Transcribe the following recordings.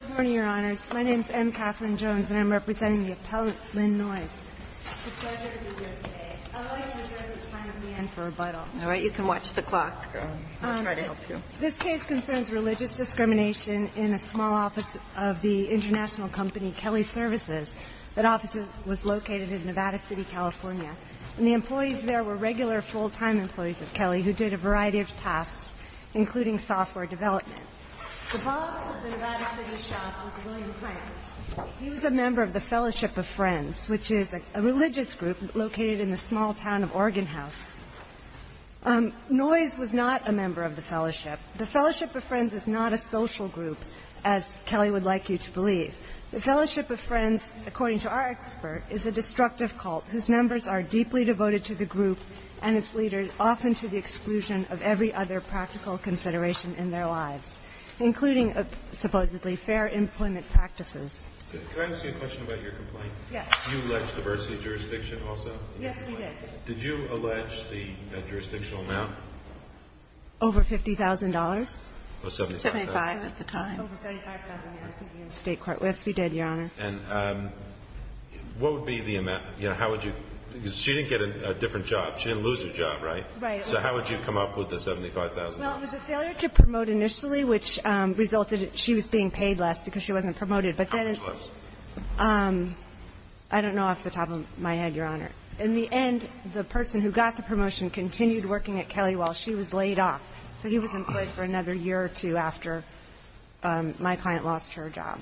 Good morning, Your Honors. My name is M. Katherine Jones, and I'm representing the appellant, Lynn Noyes. It's a pleasure to be here today. I'd like to address the time at the end for rebuttal. All right. You can watch the clock. I'll try to help you. This case concerns religious discrimination in a small office of the international company Kelley Services. That office was located in Nevada City, California. And the employees there were regular full-time employees of Kelley who did a variety of tasks, including software development. The boss of the Nevada City shop was William Prince. He was a member of the Fellowship of Friends, which is a religious group located in the small town of Organ House. Noyes was not a member of the Fellowship. The Fellowship of Friends is not a social group, as Kelley would like you to believe. The Fellowship of Friends, according to our expert, is a destructive cult whose members are deeply devoted to the group and its leaders, often to the exclusion of every other practical consideration in their lives, including supposedly fair employment practices. Can I ask you a question about your complaint? Yes. You alleged diversity of jurisdiction also? Yes, we did. Did you allege the jurisdictional amount? Over $50,000. Or $75,000. $75,000 at the time. Over $75,000, yes. State court. Yes, we did, Your Honor. And what would be the amount? You know, how would you? Because she didn't get a different job. She didn't lose her job, right? Right. So how would you come up with the $75,000? Well, it was a failure to promote initially, which resulted in she was being paid less because she wasn't promoted. How much less? I don't know off the top of my head, Your Honor. In the end, the person who got the promotion continued working at Kelley while she was laid off. So he was employed for another year or two after my client lost her job.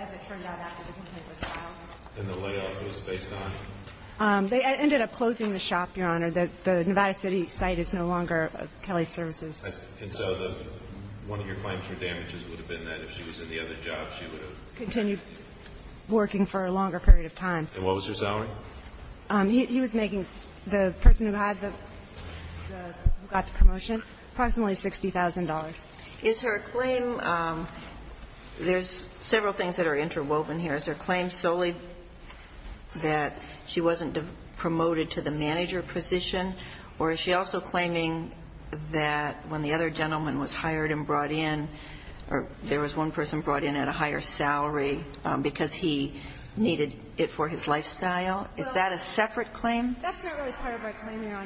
As it turned out after the complaint was filed? In the layoff, it was based on? They ended up closing the shop, Your Honor. The Nevada City site is no longer Kelley Services. And so the one of your claims for damages would have been that if she was in the other job, she would have? Continued working for a longer period of time. And what was her salary? He was making the person who had the – who got the promotion approximately $60,000. Is her claim – there's several things that are interwoven here. Is her claim solely that she wasn't promoted to the manager position? Or is she also claiming that when the other gentleman was hired and brought in, or there was one person brought in at a higher salary because he needed it for his lifestyle? Is that a separate claim?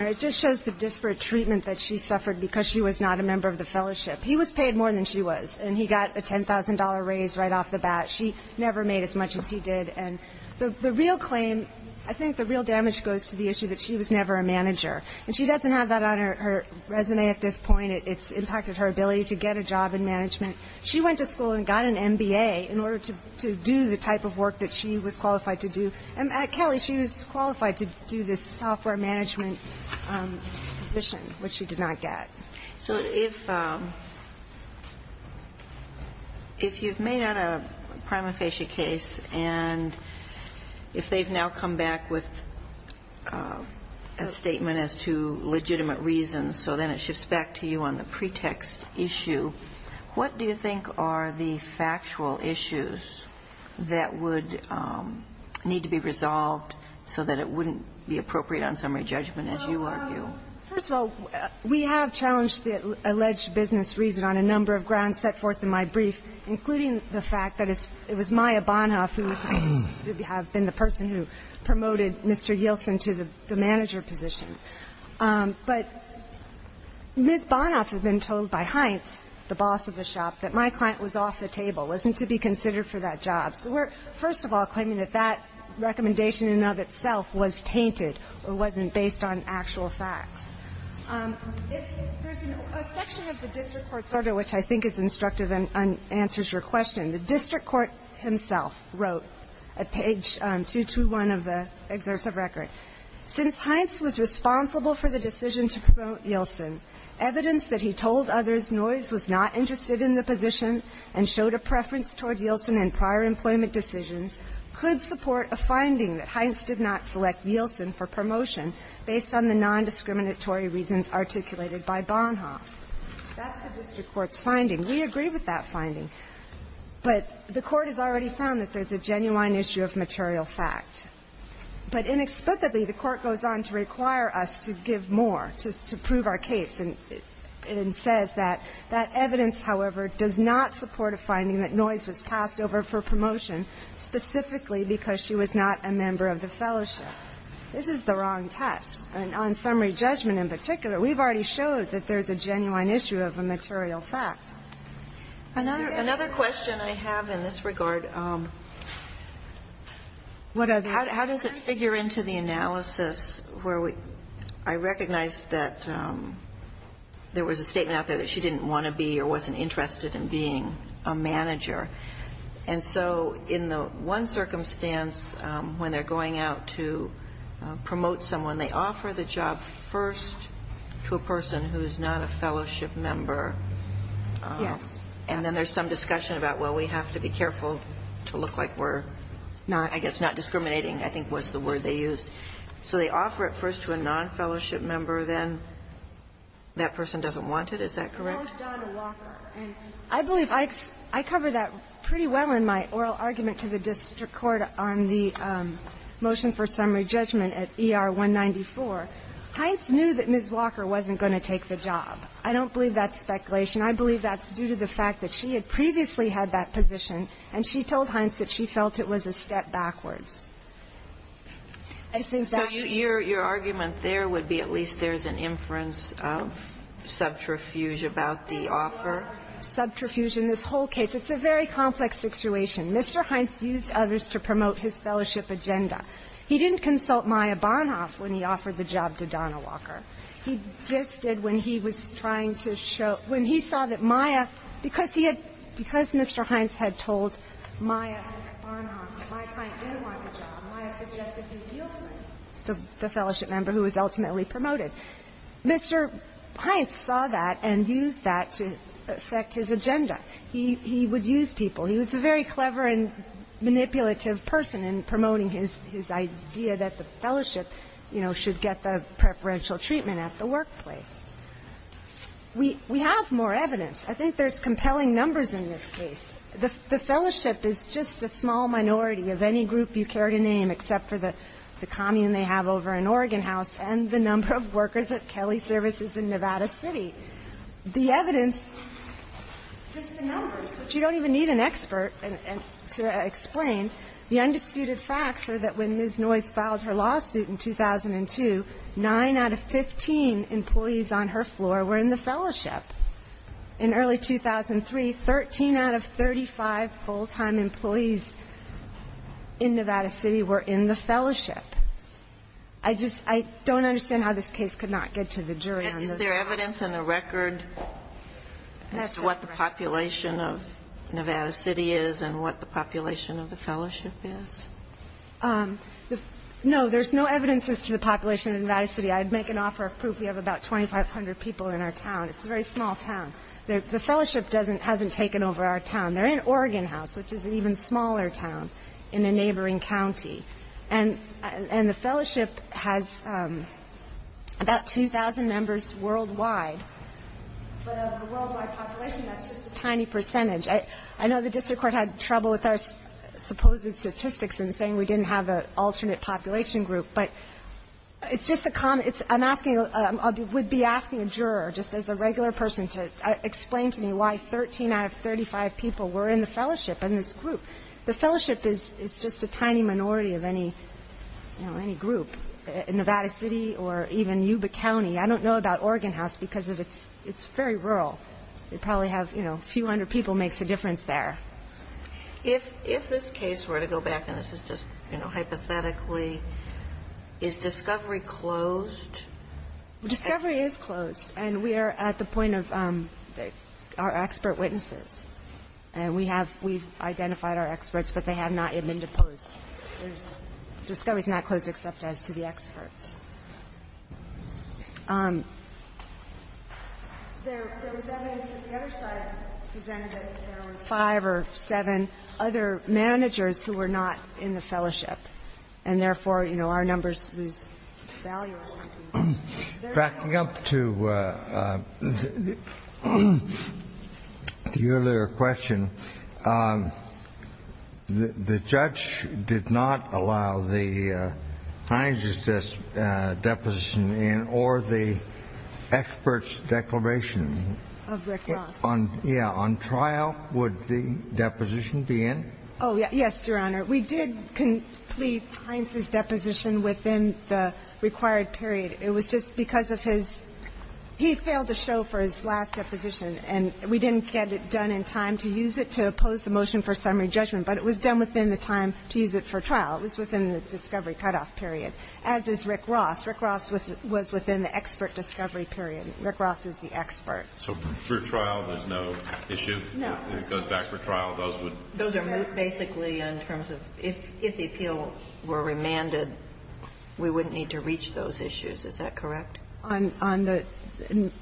It just shows the disparate treatment that she suffered because she was not a member of the fellowship. He was paid more than she was, and he got a $10,000 raise right off the bat. She never made as much as he did. And the real claim – I think the real damage goes to the issue that she was never a manager. And she doesn't have that on her resume at this point. It's impacted her ability to get a job in management. She went to school and got an MBA in order to do the type of work that she was qualified to do. And, Kelly, she was qualified to do this software management position, which she did not get. So if you've made out a prima facie case, and if they've now come back with a statement as to legitimate reasons, so then it shifts back to you on the pretext issue, what do you think are the factual issues that would need to be resolved so that it wouldn't be appropriate on summary judgment, as you argue? First of all, we have challenged the alleged business reason on a number of grounds set forth in my brief, including the fact that it was Maya Bonhoeff who was supposed to have been the person who promoted Mr. Yielson to the manager position. But Ms. Bonhoeff had been told by Heintz, the boss of the shop, that my client was off the table, wasn't to be considered for that job. So we're, first of all, claiming that that recommendation in and of itself was tainted or wasn't based on actual facts. There's a section of the district court's order which I think is instructive and answers your question. The district court himself wrote at page 221 of the excerpt of record, Since Heintz was responsible for the decision to promote Yielson, evidence that he told others Noyes was not interested in the position and showed a preference toward Yielson in prior employment decisions could support a finding that Heintz did not select Yielson for promotion based on the non-discriminatory reasons articulated by Bonhoeff. That's the district court's finding. We agree with that finding. But the court has already found that there's a genuine issue of material fact. But inexplicably, the court goes on to require us to give more to prove our case and says that that evidence, however, does not support a finding that Noyes was passed over for promotion specifically because she was not a member of the fellowship. This is the wrong test. And on summary judgment in particular, we've already showed that there's a genuine issue of a material fact. Another question I have in this regard, how does it figure into the analysis where I recognize that there was a statement out there that she didn't want to be or wasn't interested in being a manager. And so in the one circumstance when they're going out to promote someone, they offer the job first to a person who's not a fellowship member. Yes. And then there's some discussion about, well, we have to be careful to look like we're, I guess, not discriminating, I think was the word they used. So they offer it first to a non-fellowship member. Then that person doesn't want it. Is that correct? I believe I covered that pretty well in my oral argument to the district court on the other day. But Hines knew that Ms. Walker wasn't going to take the job. I don't believe that's speculation. I believe that's due to the fact that she had previously had that position, and she told Hines that she felt it was a step backwards. I think that's true. So your argument there would be at least there's an inference of subterfuge about the offer? There is no subterfuge in this whole case. It's a very complex situation. Mr. Hines used others to promote his fellowship agenda. He didn't consult Maya Bonhoeff when he offered the job to Donna Walker. He just did when he was trying to show, when he saw that Maya, because he had, because Mr. Hines had told Maya Bonhoeff, Maya Hines didn't want the job, Maya suggested he deal with the fellowship member who was ultimately promoted. Mr. Hines saw that and used that to affect his agenda. He would use people. He was a very clever and manipulative person in promoting his idea that the fellowship, you know, should get the preferential treatment at the workplace. We have more evidence. I think there's compelling numbers in this case. The fellowship is just a small minority of any group you care to name except for the commune they have over in Oregon House and the number of workers at Kelly Services in Nevada City. The evidence, just the numbers, but you don't even need an expert to explain. The undisputed facts are that when Ms. Noyes filed her lawsuit in 2002, 9 out of 15 employees on her floor were in the fellowship. In early 2003, 13 out of 35 full-time employees in Nevada City were in the fellowship. I just don't understand how this case could not get to the jury on this. Is there evidence in the record as to what the population of Nevada City is and what the population of the fellowship is? No. There's no evidence as to the population of Nevada City. I'd make an offer of proof. We have about 2,500 people in our town. It's a very small town. The fellowship doesn't hasn't taken over our town. They're in Oregon House, which is an even smaller town in a neighboring county. And the fellowship has about 2,000 members worldwide. But of the worldwide population, that's just a tiny percentage. I know the district court had trouble with our supposed statistics in saying we didn't have an alternate population group. But it's just a comment. I'm asking, I would be asking a juror, just as a regular person, to explain to me why 13 out of 35 people were in the fellowship in this group. The fellowship is just a tiny minority of any group. Nevada City or even Yuba County. I don't know about Oregon House because it's very rural. They probably have, you know, a few hundred people makes a difference there. If this case were to go back, and this is just, you know, hypothetically, is discovery closed? Discovery is closed. And we are at the point of our expert witnesses. And we have, we've identified our experts, but they have not yet been deposed. Discovery is not closed except as to the experts. There was evidence that the other side presented that there were five or seven other managers who were not in the fellowship. And therefore, you know, our numbers lose value. Backing up to the earlier question, the judge did not allow the Heinz's deposition in or the experts' declaration. Of the cross. Yeah. On trial, would the deposition be in? Oh, yes, Your Honor. We did complete Heinz's deposition within the required period. It was just because of his, he failed to show for his last deposition. And we didn't get it done in time to use it to oppose the motion for summary judgment. But it was done within the time to use it for trial. It was within the discovery cutoff period. As is Rick Ross. Rick Ross was within the expert discovery period. Rick Ross is the expert. So for trial, there's no issue? No. If it goes back for trial, those would? Those are basically in terms of if the appeal were remanded, we wouldn't need to reach those issues. Is that correct? On the,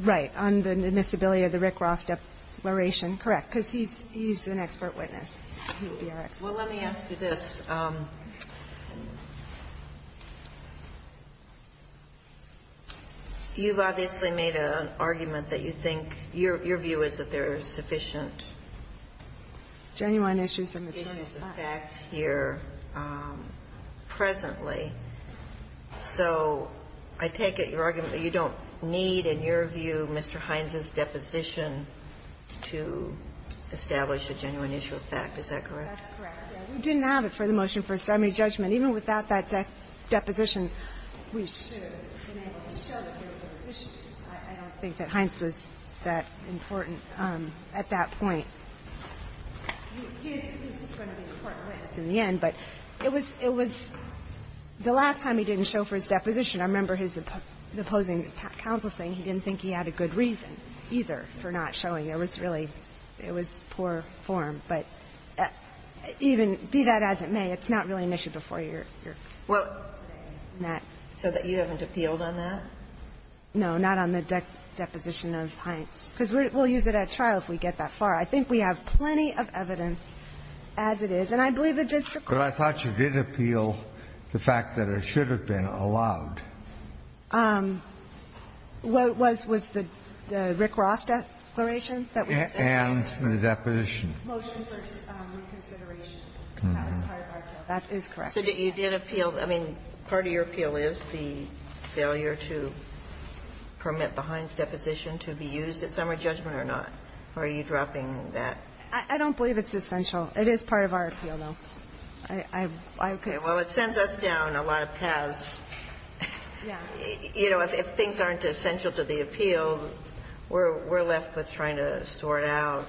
right. On the admissibility of the Rick Ross declaration, correct. Because he's an expert witness. He would be our expert. Well, let me ask you this. You've obviously made an argument that you think your view is that there is sufficient genuine issues in the term of fact. Issues of fact here presently. So I take it your argument that you don't need, in your view, Mr. Hines' deposition to establish a genuine issue of fact. Is that correct? That's correct. We didn't have it for the motion for summary judgment. Even without that deposition, we should have been able to show that there were those issues. I don't think that Hines was that important at that point. He is going to be an important witness in the end. But it was the last time he didn't show for his deposition. I remember his opposing counsel saying he didn't think he had a good reason either for not showing. It was really, it was poor form. But even, be that as it may, it's not really an issue before your court today. So that you haven't appealed on that? No. Not on the deposition of Hines. Because we'll use it at trial if we get that far. I think we have plenty of evidence, as it is. And I believe the district court. But I thought you did appeal the fact that it should have been allowed. Was the Rick Ross declaration that we said? And the deposition. Motion for reconsideration. That is correct. So you did appeal. I mean, part of your appeal is the failure to permit the Hines deposition to be used at summary judgment or not. Are you dropping that? I don't believe it's essential. It is part of our appeal, though. Okay. Well, it sends us down a lot of paths. You know, if things aren't essential to the appeal, we're left with trying to sort out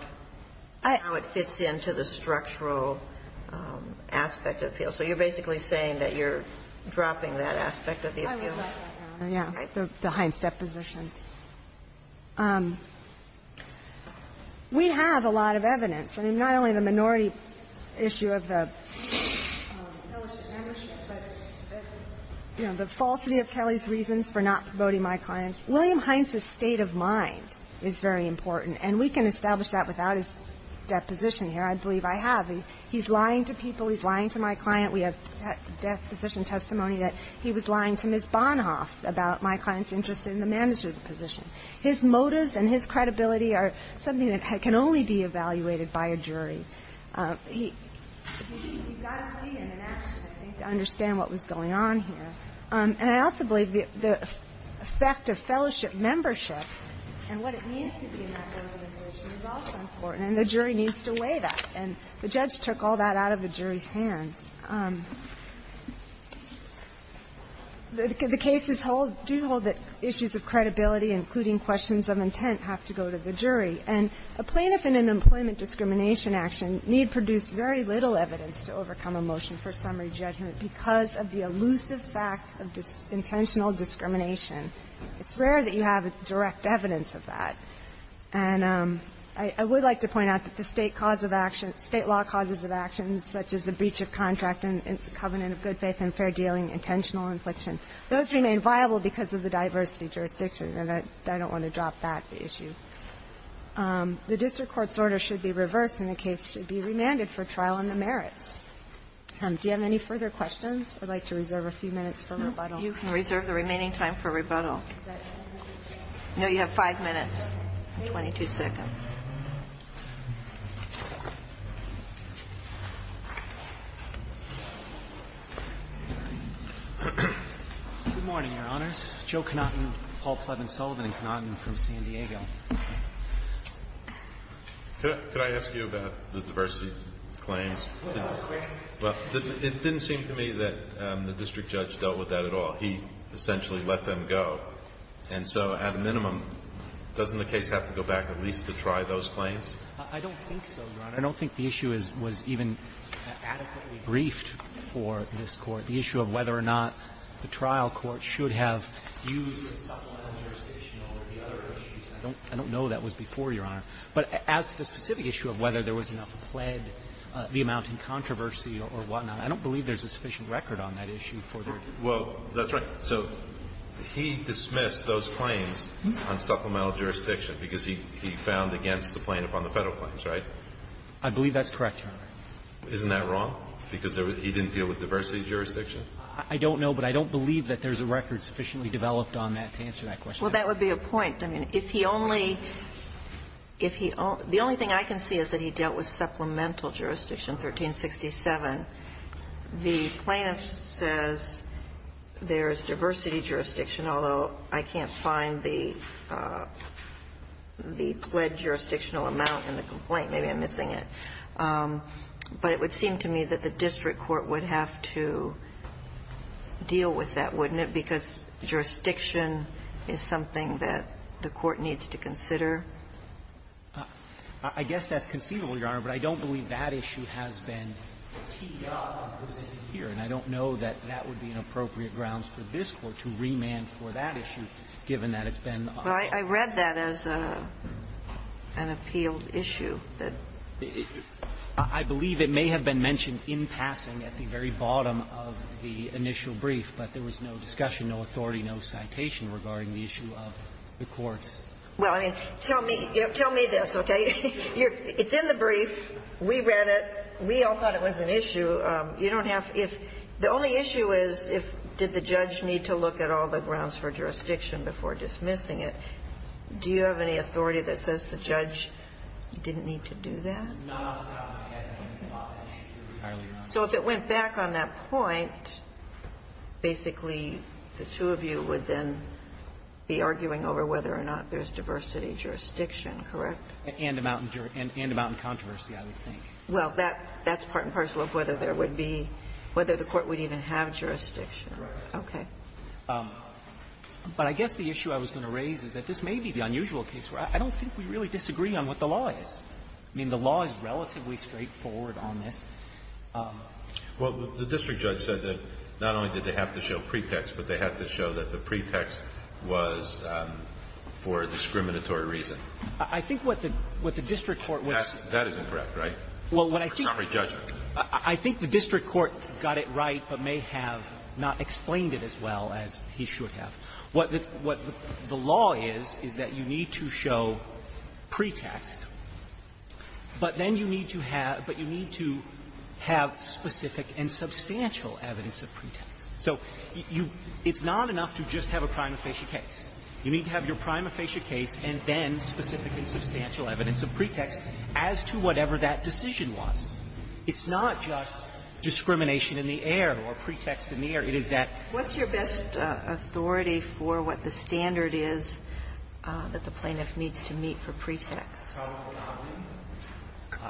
how it fits into the structural aspect of the appeal. So you're basically saying that you're dropping that aspect of the appeal. I would like that, Your Honor. The Hines deposition. We have a lot of evidence. I mean, not only the minority issue of the fellowship membership, but, you know, the falsity of Kelly's reasons for not promoting my clients. William Hines's state of mind is very important. And we can establish that without his deposition here. I believe I have. He's lying to people. He's lying to my client. We have deposition testimony that he was lying to Ms. Bonhoff about my client's interest in the management position. His motives and his credibility are something that can only be evaluated by a jury. You've got to see him in action, I think, to understand what was going on here. And I also believe the effect of fellowship membership and what it means to be in that organization is also important, and the jury needs to weigh that. And the judge took all that out of the jury's hands. The cases hold, do hold that issues of credibility, including questions of intent, have to go to the jury. And a plaintiff in an employment discrimination action need produce very little evidence to overcome a motion for summary judgment because of the elusive fact of intentional discrimination. It's rare that you have direct evidence of that. And I would like to point out that the State cause of action, State law causes of action such as a breach of contract and covenant of good faith and fair dealing, intentional infliction, those remain viable because of the diversity jurisdiction. And I don't want to drop that issue. The district court's order should be reversed and the case should be remanded for trial on the merits. Do you have any further questions? I'd like to reserve a few minutes for rebuttal. You can reserve the remaining time for rebuttal. No, you have five minutes and 22 seconds. Good morning, Your Honors. Joe Conanton, Paul Plevin Sullivan and Conanton from San Diego. Could I ask you about the diversity claims? Well, it didn't seem to me that the district judge dealt with that at all. He essentially let them go. And so, at a minimum, doesn't the case have to go back at least to try those claims? I don't think so, Your Honor. I don't think the issue was even adequately briefed for this Court. The issue of whether or not the trial court should have used the Sullivan jurisdictional or the other issues, I don't know that was before, Your Honor. But as to the specific issue of whether there was enough pled the amount in controversy or whatnot, I don't believe there's a sufficient record on that issue for the review. Well, that's right. So he dismissed those claims on supplemental jurisdiction because he found against the plaintiff on the Federal claims, right? I believe that's correct, Your Honor. Isn't that wrong, because he didn't deal with diversity jurisdiction? I don't know, but I don't believe that there's a record sufficiently developed on that to answer that question. Well, that would be a point. I mean, if he only – if he – the only thing I can see is that he dealt with supplemental jurisdiction 1367. The plaintiff says there's diversity jurisdiction, although I can't find the pled jurisdictional amount in the complaint. Maybe I'm missing it. But it would seem to me that the district court would have to deal with that, wouldn't it, because jurisdiction is something that the court needs to consider? I guess that's conceivable, Your Honor, but I don't believe that issue has been teed up or presented here, and I don't know that that would be an appropriate grounds for this Court to remand for that issue, given that it's been on the record. Well, I read that as an appealed issue that the district court would have to deal with. I believe it may have been mentioned in passing at the very bottom of the initial brief, but there was no discussion, no authority, no citation regarding the issue of the courts. Well, I mean, tell me – you know, tell me this, okay? It's in the brief, we read it, we all thought it was an issue. You don't have – if – the only issue is if did the judge need to look at all the grounds for jurisdiction before dismissing it. Do you have any authority that says the judge didn't need to do that? No, Your Honor. I haven't thought that issue entirely. So if it went back on that point, basically, the two of you would then be arguing over whether or not there's diversity jurisdiction, correct? And amount in jurisdiction – and amount in controversy, I would think. Well, that's part and parcel of whether there would be – whether the Court would even have jurisdiction. Right. Okay. But I guess the issue I was going to raise is that this may be the unusual case where I don't think we really disagree on what the law is. I mean, the law is relatively straightforward on this. Well, the district judge said that not only did they have to show pretext, but they also had to show that the pretext was for discriminatory reason. I think what the district court was – That is incorrect, right? Well, what I think – For summary judgment. I think the district court got it right but may have not explained it as well as he should have. What the law is, is that you need to show pretext, but then you need to have – but you need to have specific and substantial evidence of pretext. So you – it's not enough to just have a prima facie case. You need to have your prima facie case and then specific and substantial evidence of pretext as to whatever that decision was. It's not just discrimination in the air or pretext in the air. It is that – What's your best authority for what the standard is that the plaintiff needs to meet for pretext?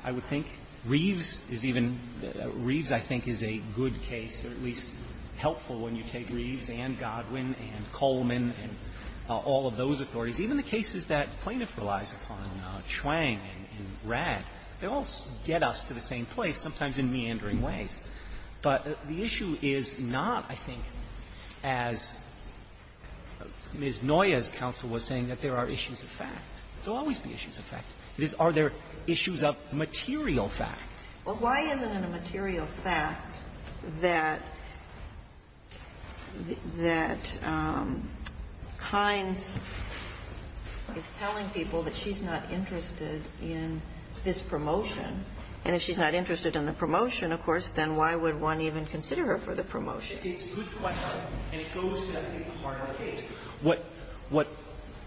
I would think Reeves is even – Reeves, I think, is a good case, or at least helps when you take Reeves and Godwin and Coleman and all of those authorities. Even the cases that plaintiff relies upon, Chuang and Ratt, they all get us to the same place, sometimes in meandering ways. But the issue is not, I think, as Ms. Noya's counsel was saying, that there are issues of fact. There will always be issues of fact. It is, are there issues of material fact? Well, why isn't it a material fact that – that Hines is telling people that she's not interested in this promotion? And if she's not interested in the promotion, of course, then why would one even consider her for the promotion? It's a good question, and it goes to, I think, the heart of the case. What – what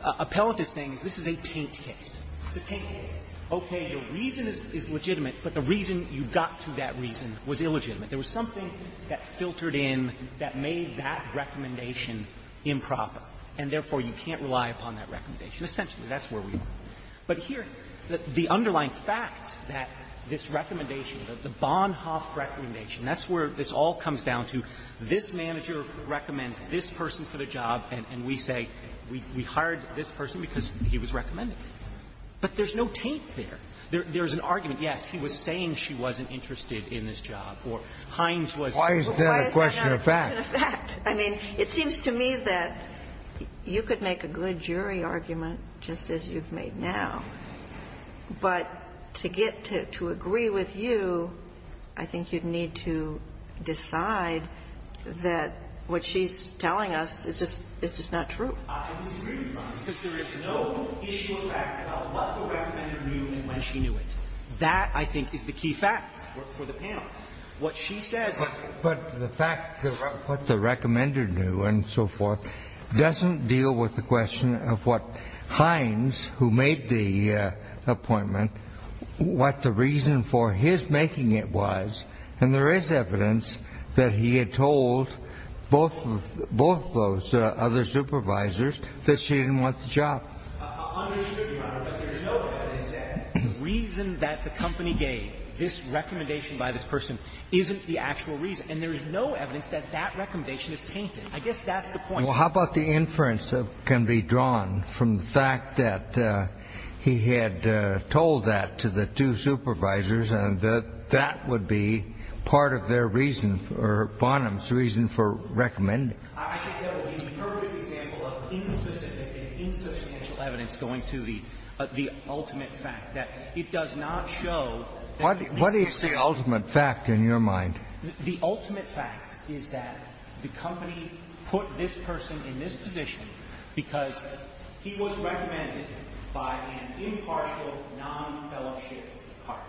Appellant is saying is this is a taint case. It's a taint case. Okay, the reason is legitimate, but the reason you got to that reason was illegitimate. There was something that filtered in that made that recommendation improper, and therefore, you can't rely upon that recommendation. Essentially, that's where we are. But here, the underlying facts that this recommendation, the Bonhoeff recommendation, that's where this all comes down to. This manager recommends this person for the job, and we say we hired this person because he was recommending it. But there's no taint there. There's an argument, yes, he was saying she wasn't interested in this job, or Hines was – Why is that a question of fact? I mean, it seems to me that you could make a good jury argument just as you've made now, but to get to agree with you, I think you'd need to decide that what she's telling us is just – is just not true. Because there is no issue of fact about what the recommender knew and when she knew it. That, I think, is the key fact for the panel. What she says is – But the fact that what the recommender knew and so forth doesn't deal with the question of what Hines, who made the appointment, what the reason for his making it was, and there is evidence that he had told both of those other supervisors that she didn't want the job. I understand, Your Honor, but there's no evidence that the reason that the company gave this recommendation by this person isn't the actual reason. And there's no evidence that that recommendation is tainted. I guess that's the point. Well, how about the inference that can be drawn from the fact that he had told that to the two supervisors and that that would be part of their reason for – Bonham's reason for recommending? I think that would be the perfect example of insubstantive and insubstantial evidence going to the ultimate fact that it does not show that – What is the ultimate fact in your mind? The ultimate fact is that the company put this person in this position because he was recommended by an impartial, non-fellowship partner.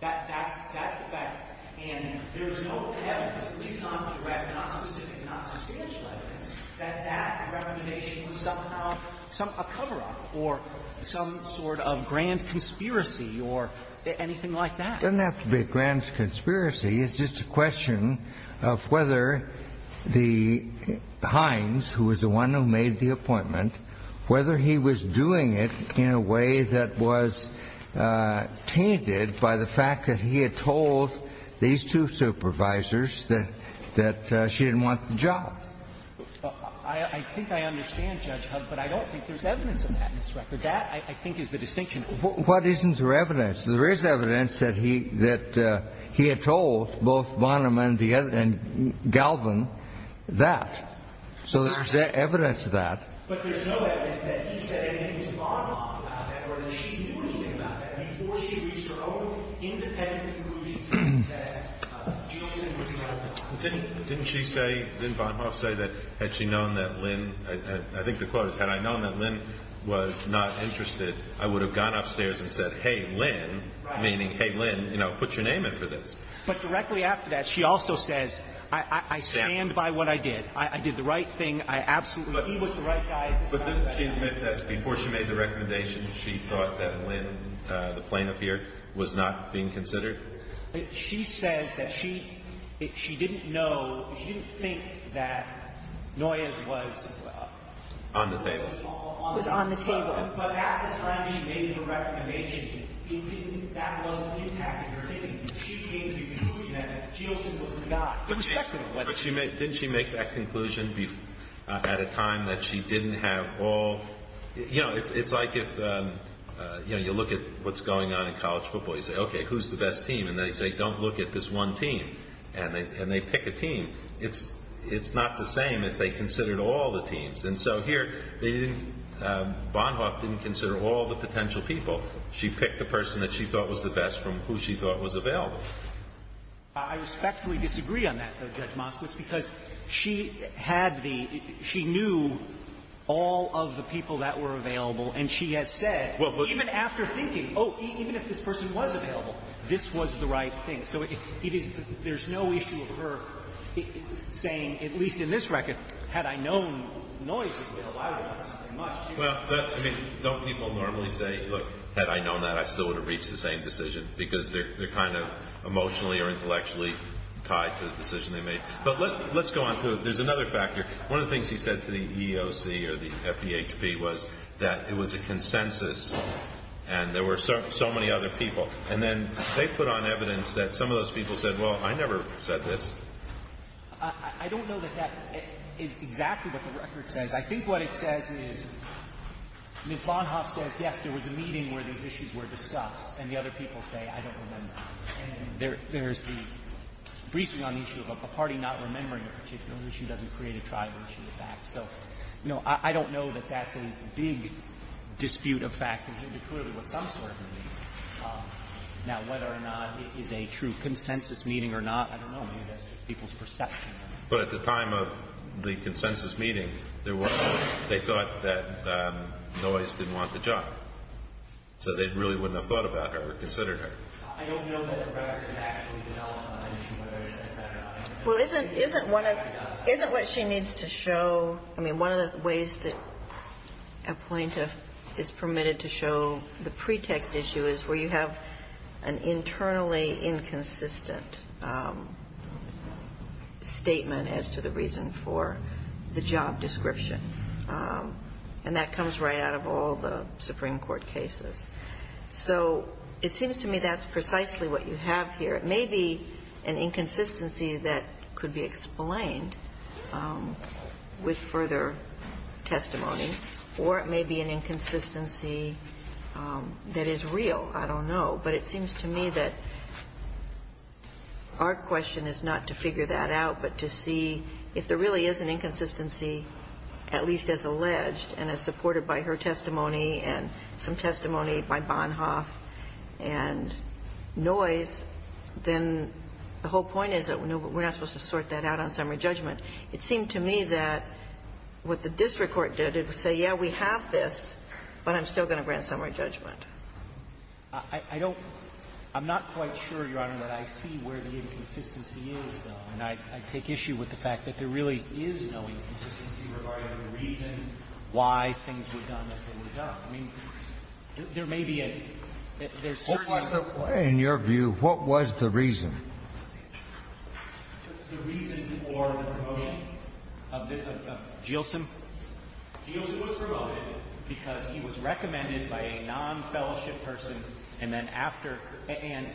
That's the fact. And there's no evidence, at least not direct, not specific, not substantial evidence that that recommendation was somehow a cover-up for some sort of grand conspiracy or anything like that. It doesn't have to be a grand conspiracy. It's just a question of whether the – Hines, who was the one who made the appointment, whether he was doing it in a way that was tainted by the fact that he had told these two supervisors that she didn't want the job. I think I understand, Judge Hubb, but I don't think there's evidence of that, Mr. Rucker. That, I think, is the distinction. What isn't there evidence? There is evidence that he had told both Bonham and Galvin that. So there's evidence of that. But there's no evidence that he said anything to Bonham about that or that she knew anything about that before she reached her own independent conclusion that Jason was involved in it. Didn't she say – didn't Bonham say that had she known that Lynn – I think the quote is, had I known that Lynn was not interested, I would have gone upstairs and said, hey, Lynn, meaning, hey, Lynn, you know, put your name in for this. But directly after that, she also says, I stand by what I did. I did the right thing. I absolutely – But doesn't she admit that before she made the recommendation, she thought that Lynn, the plaintiff here, was not being considered? She says that she – she didn't know – she didn't think that Noyes was – On the table. Was on the table. But at the time she made the recommendation, it didn't – that wasn't impacting her thinking. She came to the conclusion that Jason was the guy. But didn't she make that conclusion at a time that she didn't have all – you know, it's like if you look at what's going on in college football. You say, okay, who's the best team? And they say, don't look at this one team. And they pick a team. It's not the same if they considered all the teams. And so here, Bonham didn't consider all the potential people. She picked the person that she thought was the best from who she thought was available. I respectfully disagree on that, though, Judge Moskowitz, because she had the – she knew all of the people that were available. And she has said, even after thinking, oh, even if this person was available, this was the right thing. So it is – there's no issue of her saying, at least in this record, had I known Noyes was available, I would have done something much different. Well, I mean, don't people normally say, look, had I known that, I still would have reached the same decision because they're kind of emotionally or intellectually tied to the decision they made. But let's go on through. There's another factor. One of the things he said to the EEOC or the FEHP was that it was a consensus and there were so many other people. And then they put on evidence that some of those people said, well, I never said this. I don't know that that is exactly what the record says. I think what it says is Ms. Bonham says, yes, there was a meeting where these issues were discussed. And the other people say, I don't remember. And there's the – briefly on the issue of a party not remembering a particular issue doesn't create a tribal issue, in fact. So, you know, I don't know that that's a big dispute of factors. It clearly was some sort of a meeting. Now, whether or not it is a true consensus meeting or not, I don't know. Maybe that's just people's perception. But at the time of the consensus meeting, they thought that Noyes didn't want the job. So they really wouldn't have thought about her or considered her. I don't know that the record has actually developed on the issue whether it says that or not. Well, isn't what she needs to show – I mean, one of the ways that a plaintiff is permitted to show the pretext issue is where you have an internally inconsistent statement as to the reason for the job description. And that comes right out of all the Supreme Court cases. So it seems to me that's precisely what you have here. It may be an inconsistency that could be explained with further testimony or it may be an inconsistency that is real. I don't know. But it seems to me that our question is not to figure that out but to see if there really is an inconsistency, at least as alleged and as supported by her testimony and some testimony by Bonhoeff and Noyes, then the whole point is that we're not supposed to sort that out on summary judgment. It seemed to me that what the district court did, it would say, yeah, we have this, but I'm still going to grant summary judgment. I don't – I'm not quite sure, Your Honor, that I see where the inconsistency is, though. And I take issue with the fact that there really is no inconsistency regarding the reason why things were done as they were done. I mean, there may be a – there's certain – What was the – in your view, what was the reason? The reason for the promotion of Jielson. Jielson was promoted because he was recommended by a non-fellowship person and then after – and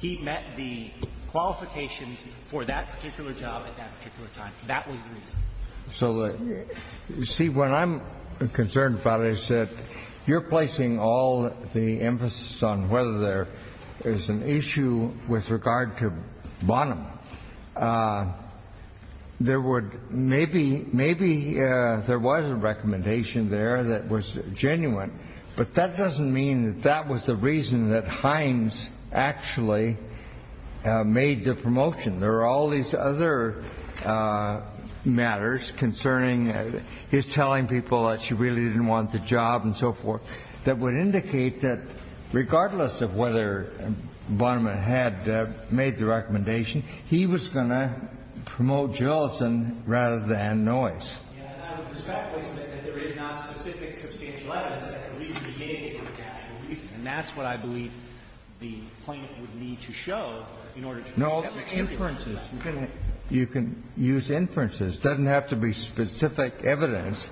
he met the qualifications for that particular job at that particular time. That was the reason. So the – see, what I'm concerned about is that you're placing all the emphasis on whether there is an issue with regard to Bonham. There would – maybe – maybe there was a recommendation there that was genuine, but that doesn't mean that that was the reason that Hines actually made the promotion. There are all these other matters concerning his telling people that she really didn't want the job and so forth that would indicate that regardless of whether Bonham had made the recommendation, he was going to promote Jielson rather than Noyes. And I would respectfully submit that there is not specific substantial evidence that the reason he gave is the actual reason. And that's what I believe the plaintiff would need to show in order to – No, inferences. You can use inferences. It doesn't have to be specific evidence.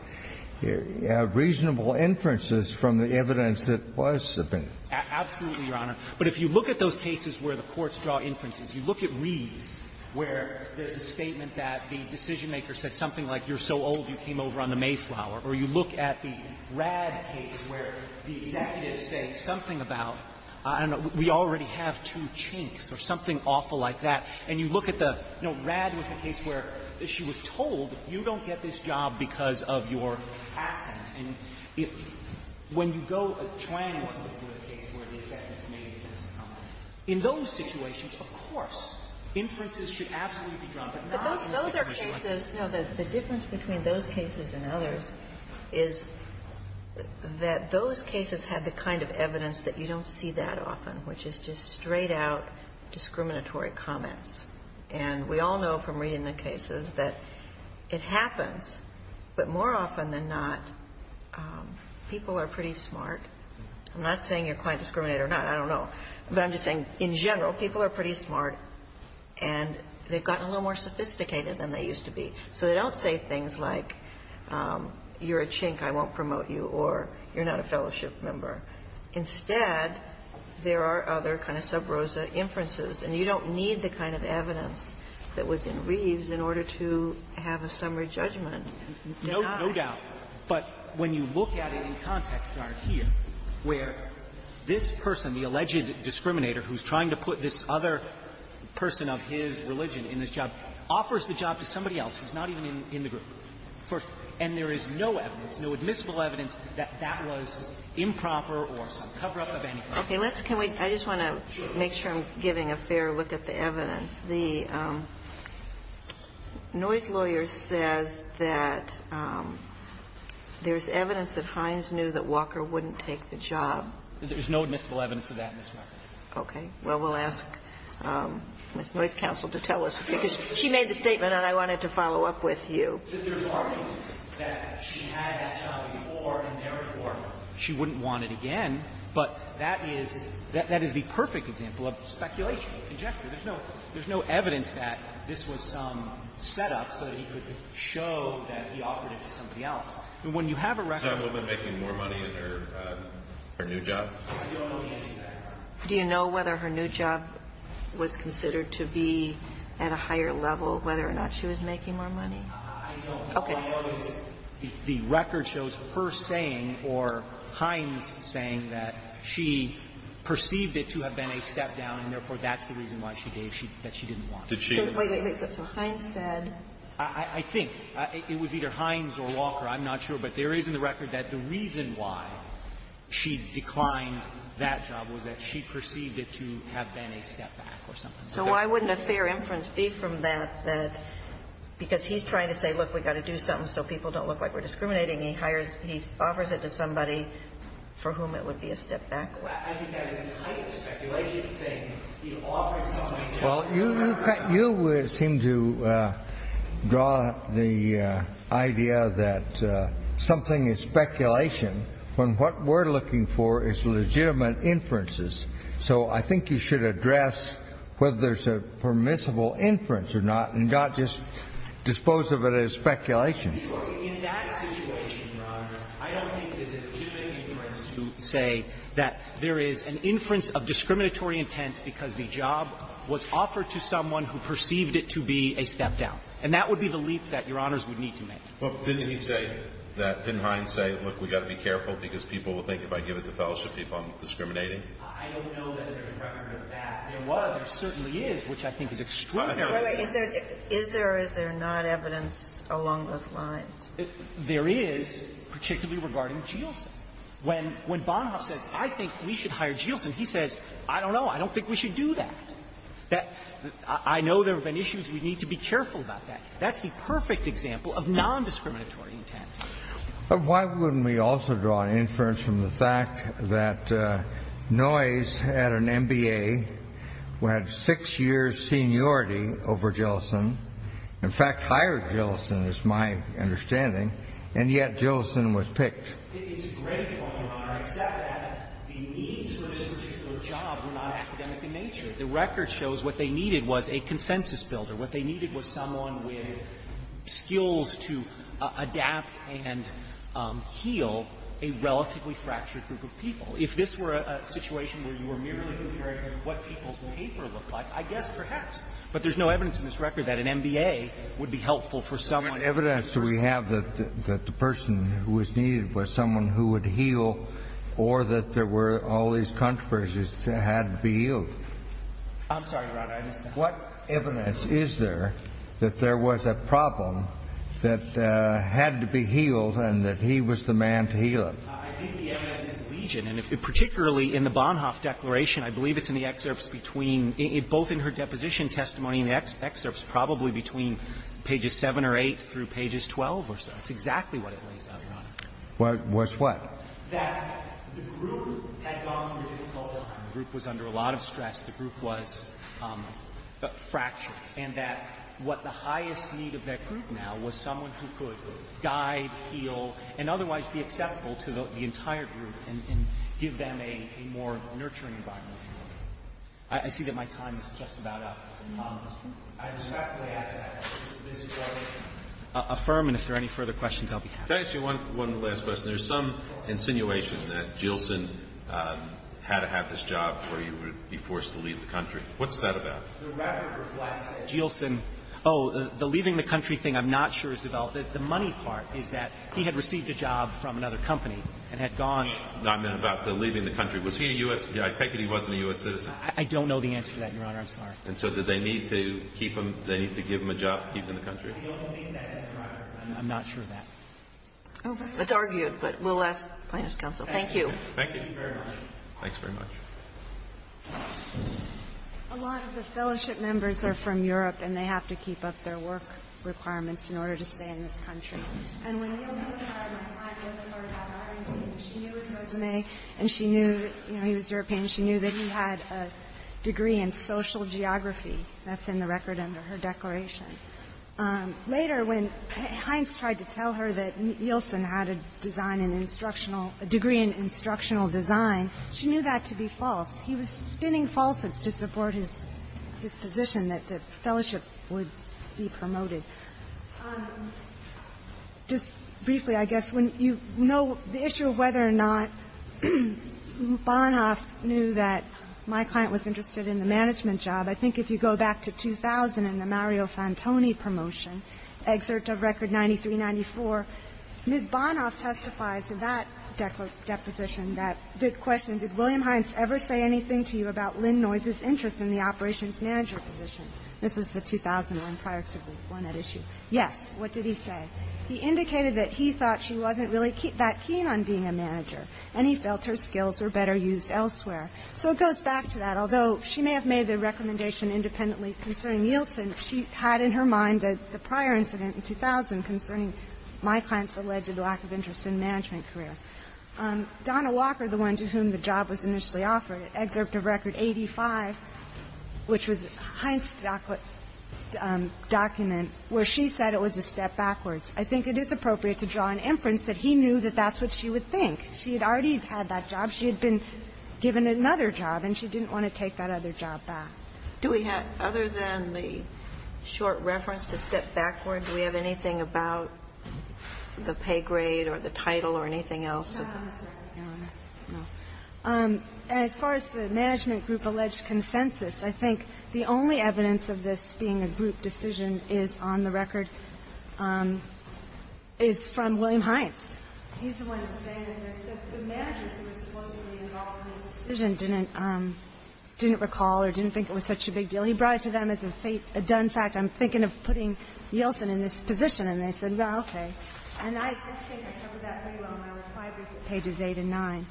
Reasonable inferences from the evidence that was subpoenaed. Absolutely, Your Honor. But if you look at those cases where the courts draw inferences, you look at Reeves where there's a statement that the decisionmaker said something like, you're so old you came over on the Mayflower, or you look at the Radd case where the executives say something about, I don't know, we already have two chinks or something awful like that. And you look at the – you know, Radd was the case where she was told, you don't get this job because of your accent. And when you go – Chuan wants to go to a case where the executives made a different comment. In those situations, of course, inferences should absolutely be drawn, but not in a situation like this. No, the difference between those cases and others is that those cases have the kind of evidence that you don't see that often, which is just straight-out discriminatory comments. And we all know from reading the cases that it happens, but more often than not, people are pretty smart. I'm not saying you're quite discriminated or not. I don't know. But I'm just saying, in general, people are pretty smart, and they've gotten a little more sophisticated than they used to be. So they don't say things like, you're a chink, I won't promote you, or you're not a fellowship member. Instead, there are other kind of sub rosa inferences. And you don't need the kind of evidence that was in Reeves in order to have a summary judgment. You cannot. No doubt. But when you look at it in context here, where this person, the alleged discriminator who's trying to put this other person of his religion in this job, offers the job to somebody else who's not even in the group first, and there is no evidence, no admissible evidence that that was improper or some cover-up of any kind. Okay. Let's can we – I just want to make sure I'm giving a fair look at the evidence. The noise lawyer says that there's evidence that Hines knew that Walker wouldn't take the job. There's no admissible evidence of that in this record. Okay. Well, we'll ask Ms. Noyce, counsel, to tell us, because she made the statement and I wanted to follow up with you. Mr. Farley, that she had that job before and therefore she wouldn't want it again, but that is the perfect example of speculation, of conjecture. There's no evidence that this was some setup so that he could show that he offered it to somebody else. And when you have a record of – Is that woman making more money in her new job? I don't know the answer to that. Do you know whether her new job was considered to be at a higher level, whether or not she was making more money? I don't. Okay. All I know is the record shows her saying or Hines saying that she perceived it to have been a step-down and therefore that's the reason why she gave – that she didn't want it. Did she? Wait, wait, wait. So Hines said – I think. It was either Hines or Walker. I'm not sure. But there is in the record that the reason why she declined that job was that she perceived it to have been a step-back or something like that. So why wouldn't a fair inference be from that, that because he's trying to say, look, we've got to do something so people don't look like we're discriminating, he hires – he offers it to somebody for whom it would be a step-back? I think that's the height of speculation, saying he offered somebody a job. Well, you – you seem to draw the idea that something is speculation when what we're looking for is legitimate inferences. So I think you should address whether there's a permissible inference or not and not just dispose of it as speculation. In that situation, Your Honor, I don't think there's a legitimate inference to say that there is an inference of discriminatory intent because the job was offered to someone who perceived it to be a step-down. And that would be the leap that Your Honors would need to make. But didn't he say that – didn't Hines say, look, we've got to be careful because people will think if I give it to Fellowship people, I'm discriminating? I don't know that there is record of that. There was. There certainly is, which I think is extreme. Wait a minute. Is there – is there or is there not evidence along those lines? There is, particularly regarding Jielson. When – when Bonhoeff says, I think we should hire Jielson, he says, I don't know. I don't think we should do that. That – I know there have been issues. We need to be careful about that. That's the perfect example of nondiscriminatory intent. But why wouldn't we also draw an inference from the fact that Noyes had an MBA, who had six years' seniority over Jielson, in fact, hired Jielson, is my understanding, and yet Jielson was picked? It's a great point, Your Honor. Except that the needs for this particular job were not academic in nature. The record shows what they needed was a consensus builder. What they needed was someone with skills to adapt and heal a relatively fractured group of people. If this were a situation where you were merely comparing what people's paper looked like, I guess, perhaps. But there's no evidence in this record that an MBA would be helpful for someone in the first place. But what evidence do we have that the person who was needed was someone who would heal or that there were all these controversies that had to be healed? I'm sorry, Your Honor. I just don't understand. What evidence is there that there was a problem that had to be healed and that he was the man to heal it? I think the evidence is Legion. And particularly in the Bonhoeff Declaration, I believe it's in the excerpts between — both in her deposition testimony and the excerpts, probably between pages 7 or 8 through pages 12 or so. That's exactly what it lays out, Your Honor. What's what? That the group had gone through a difficult time. The group was under a lot of stress. The group was fractured. And that what the highest need of that group now was someone who could guide, heal, and otherwise be acceptable to the entire group and give them a more nurturing environment. I see that my time is just about up. I respectfully ask that this Court affirm, and if there are any further questions, I'll be happy to answer. Can I ask you one last question? There's some insinuation that Jielson had to have this job or he would be forced to leave the country. What's that about? The record reflects that Jielson — oh, the leaving the country thing I'm not sure is developed. The money part is that he had received a job from another company and had gone. I meant about the leaving the country. Was he a U.S. — I take it he wasn't a U.S. citizen. I don't know the answer to that, Your Honor. I'm sorry. And so did they need to keep him — did they need to give him a job to keep him in the country? I don't believe that's the record. I'm not sure of that. Okay. It's argued, but we'll ask Plaintiff's counsel. Thank you. Thank you very much. Thanks very much. A lot of the fellowship members are from Europe, and they have to keep up their work requirements in order to stay in this country. And when Jielson was hired, my client was part of that hiring team. She knew his resume, and she knew, you know, he was European. She knew that he had a degree in social geography. That's in the record under her declaration. Later, when Heinz tried to tell her that Jielson had a design — a degree in instructional design, she knew that to be false. He was spinning falsehoods to support his position that the fellowship would be promoted. Just briefly, I guess, when you know the issue of whether or not Bonhoeff knew that my client was interested in the management job, I think if you go back to 2000 in the Mario Fantoni promotion, excerpt of Record 9394, Ms. Bonhoeff testifies in that deposition that — the question, did William Heinz ever say anything to you about Lynn Noyce's interest in the operations manager position? This was the 2000 one prior to the one at issue. Yes. What did he say? He indicated that he thought she wasn't really that keen on being a manager, and he felt her skills were better used elsewhere. So it goes back to that. And just a little bit on the question of the interests of the fellowship, independently concerning Jielson, she had in her mind the prior incident in 2000 concerning my client's alleged lack of interest in management career. Donna Walker, the one to whom the job was initially offered, excerpt of Record 85, which was Heinz's document, where she said it was a step backwards. I think it is appropriate to draw an inference that he knew that that's what she would think. She had already had that job. She had been given another job, and she didn't want to take that other job back. Do we have, other than the short reference to step backwards, do we have anything about the pay grade or the title or anything else? As far as the management group alleged consensus, I think the only evidence of this being a group decision is on the record, is from William Heinz. He's the one who's saying that the managers who were supposedly involved in this decision didn't recall or didn't think it was such a big deal. He brought it to them as a done fact. I'm thinking of putting Jielson in this position. And they said, well, okay. And I think I covered that pretty well in my reply brief at pages 8 and 9.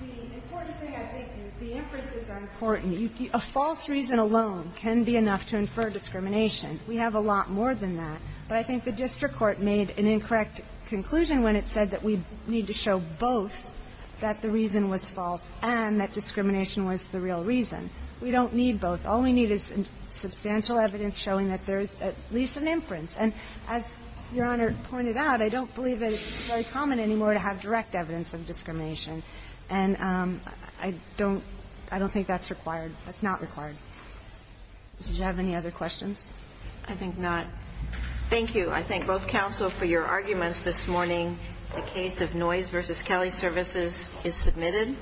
The important thing, I think, is the inferences are important. A false reason alone can be enough to infer discrimination. We have a lot more than that. But I think the district court made an incorrect conclusion when it said that we need to show both that the reason was false and that discrimination was the real reason. We don't need both. All we need is substantial evidence showing that there is at least an inference. And as Your Honor pointed out, I don't believe that it's very common anymore to have direct evidence of discrimination. And I don't think that's required. That's not required. Did you have any other questions? I think not. Thank you. I thank both counsel for your arguments this morning. The case of Noise v. Kelly Services is submitted.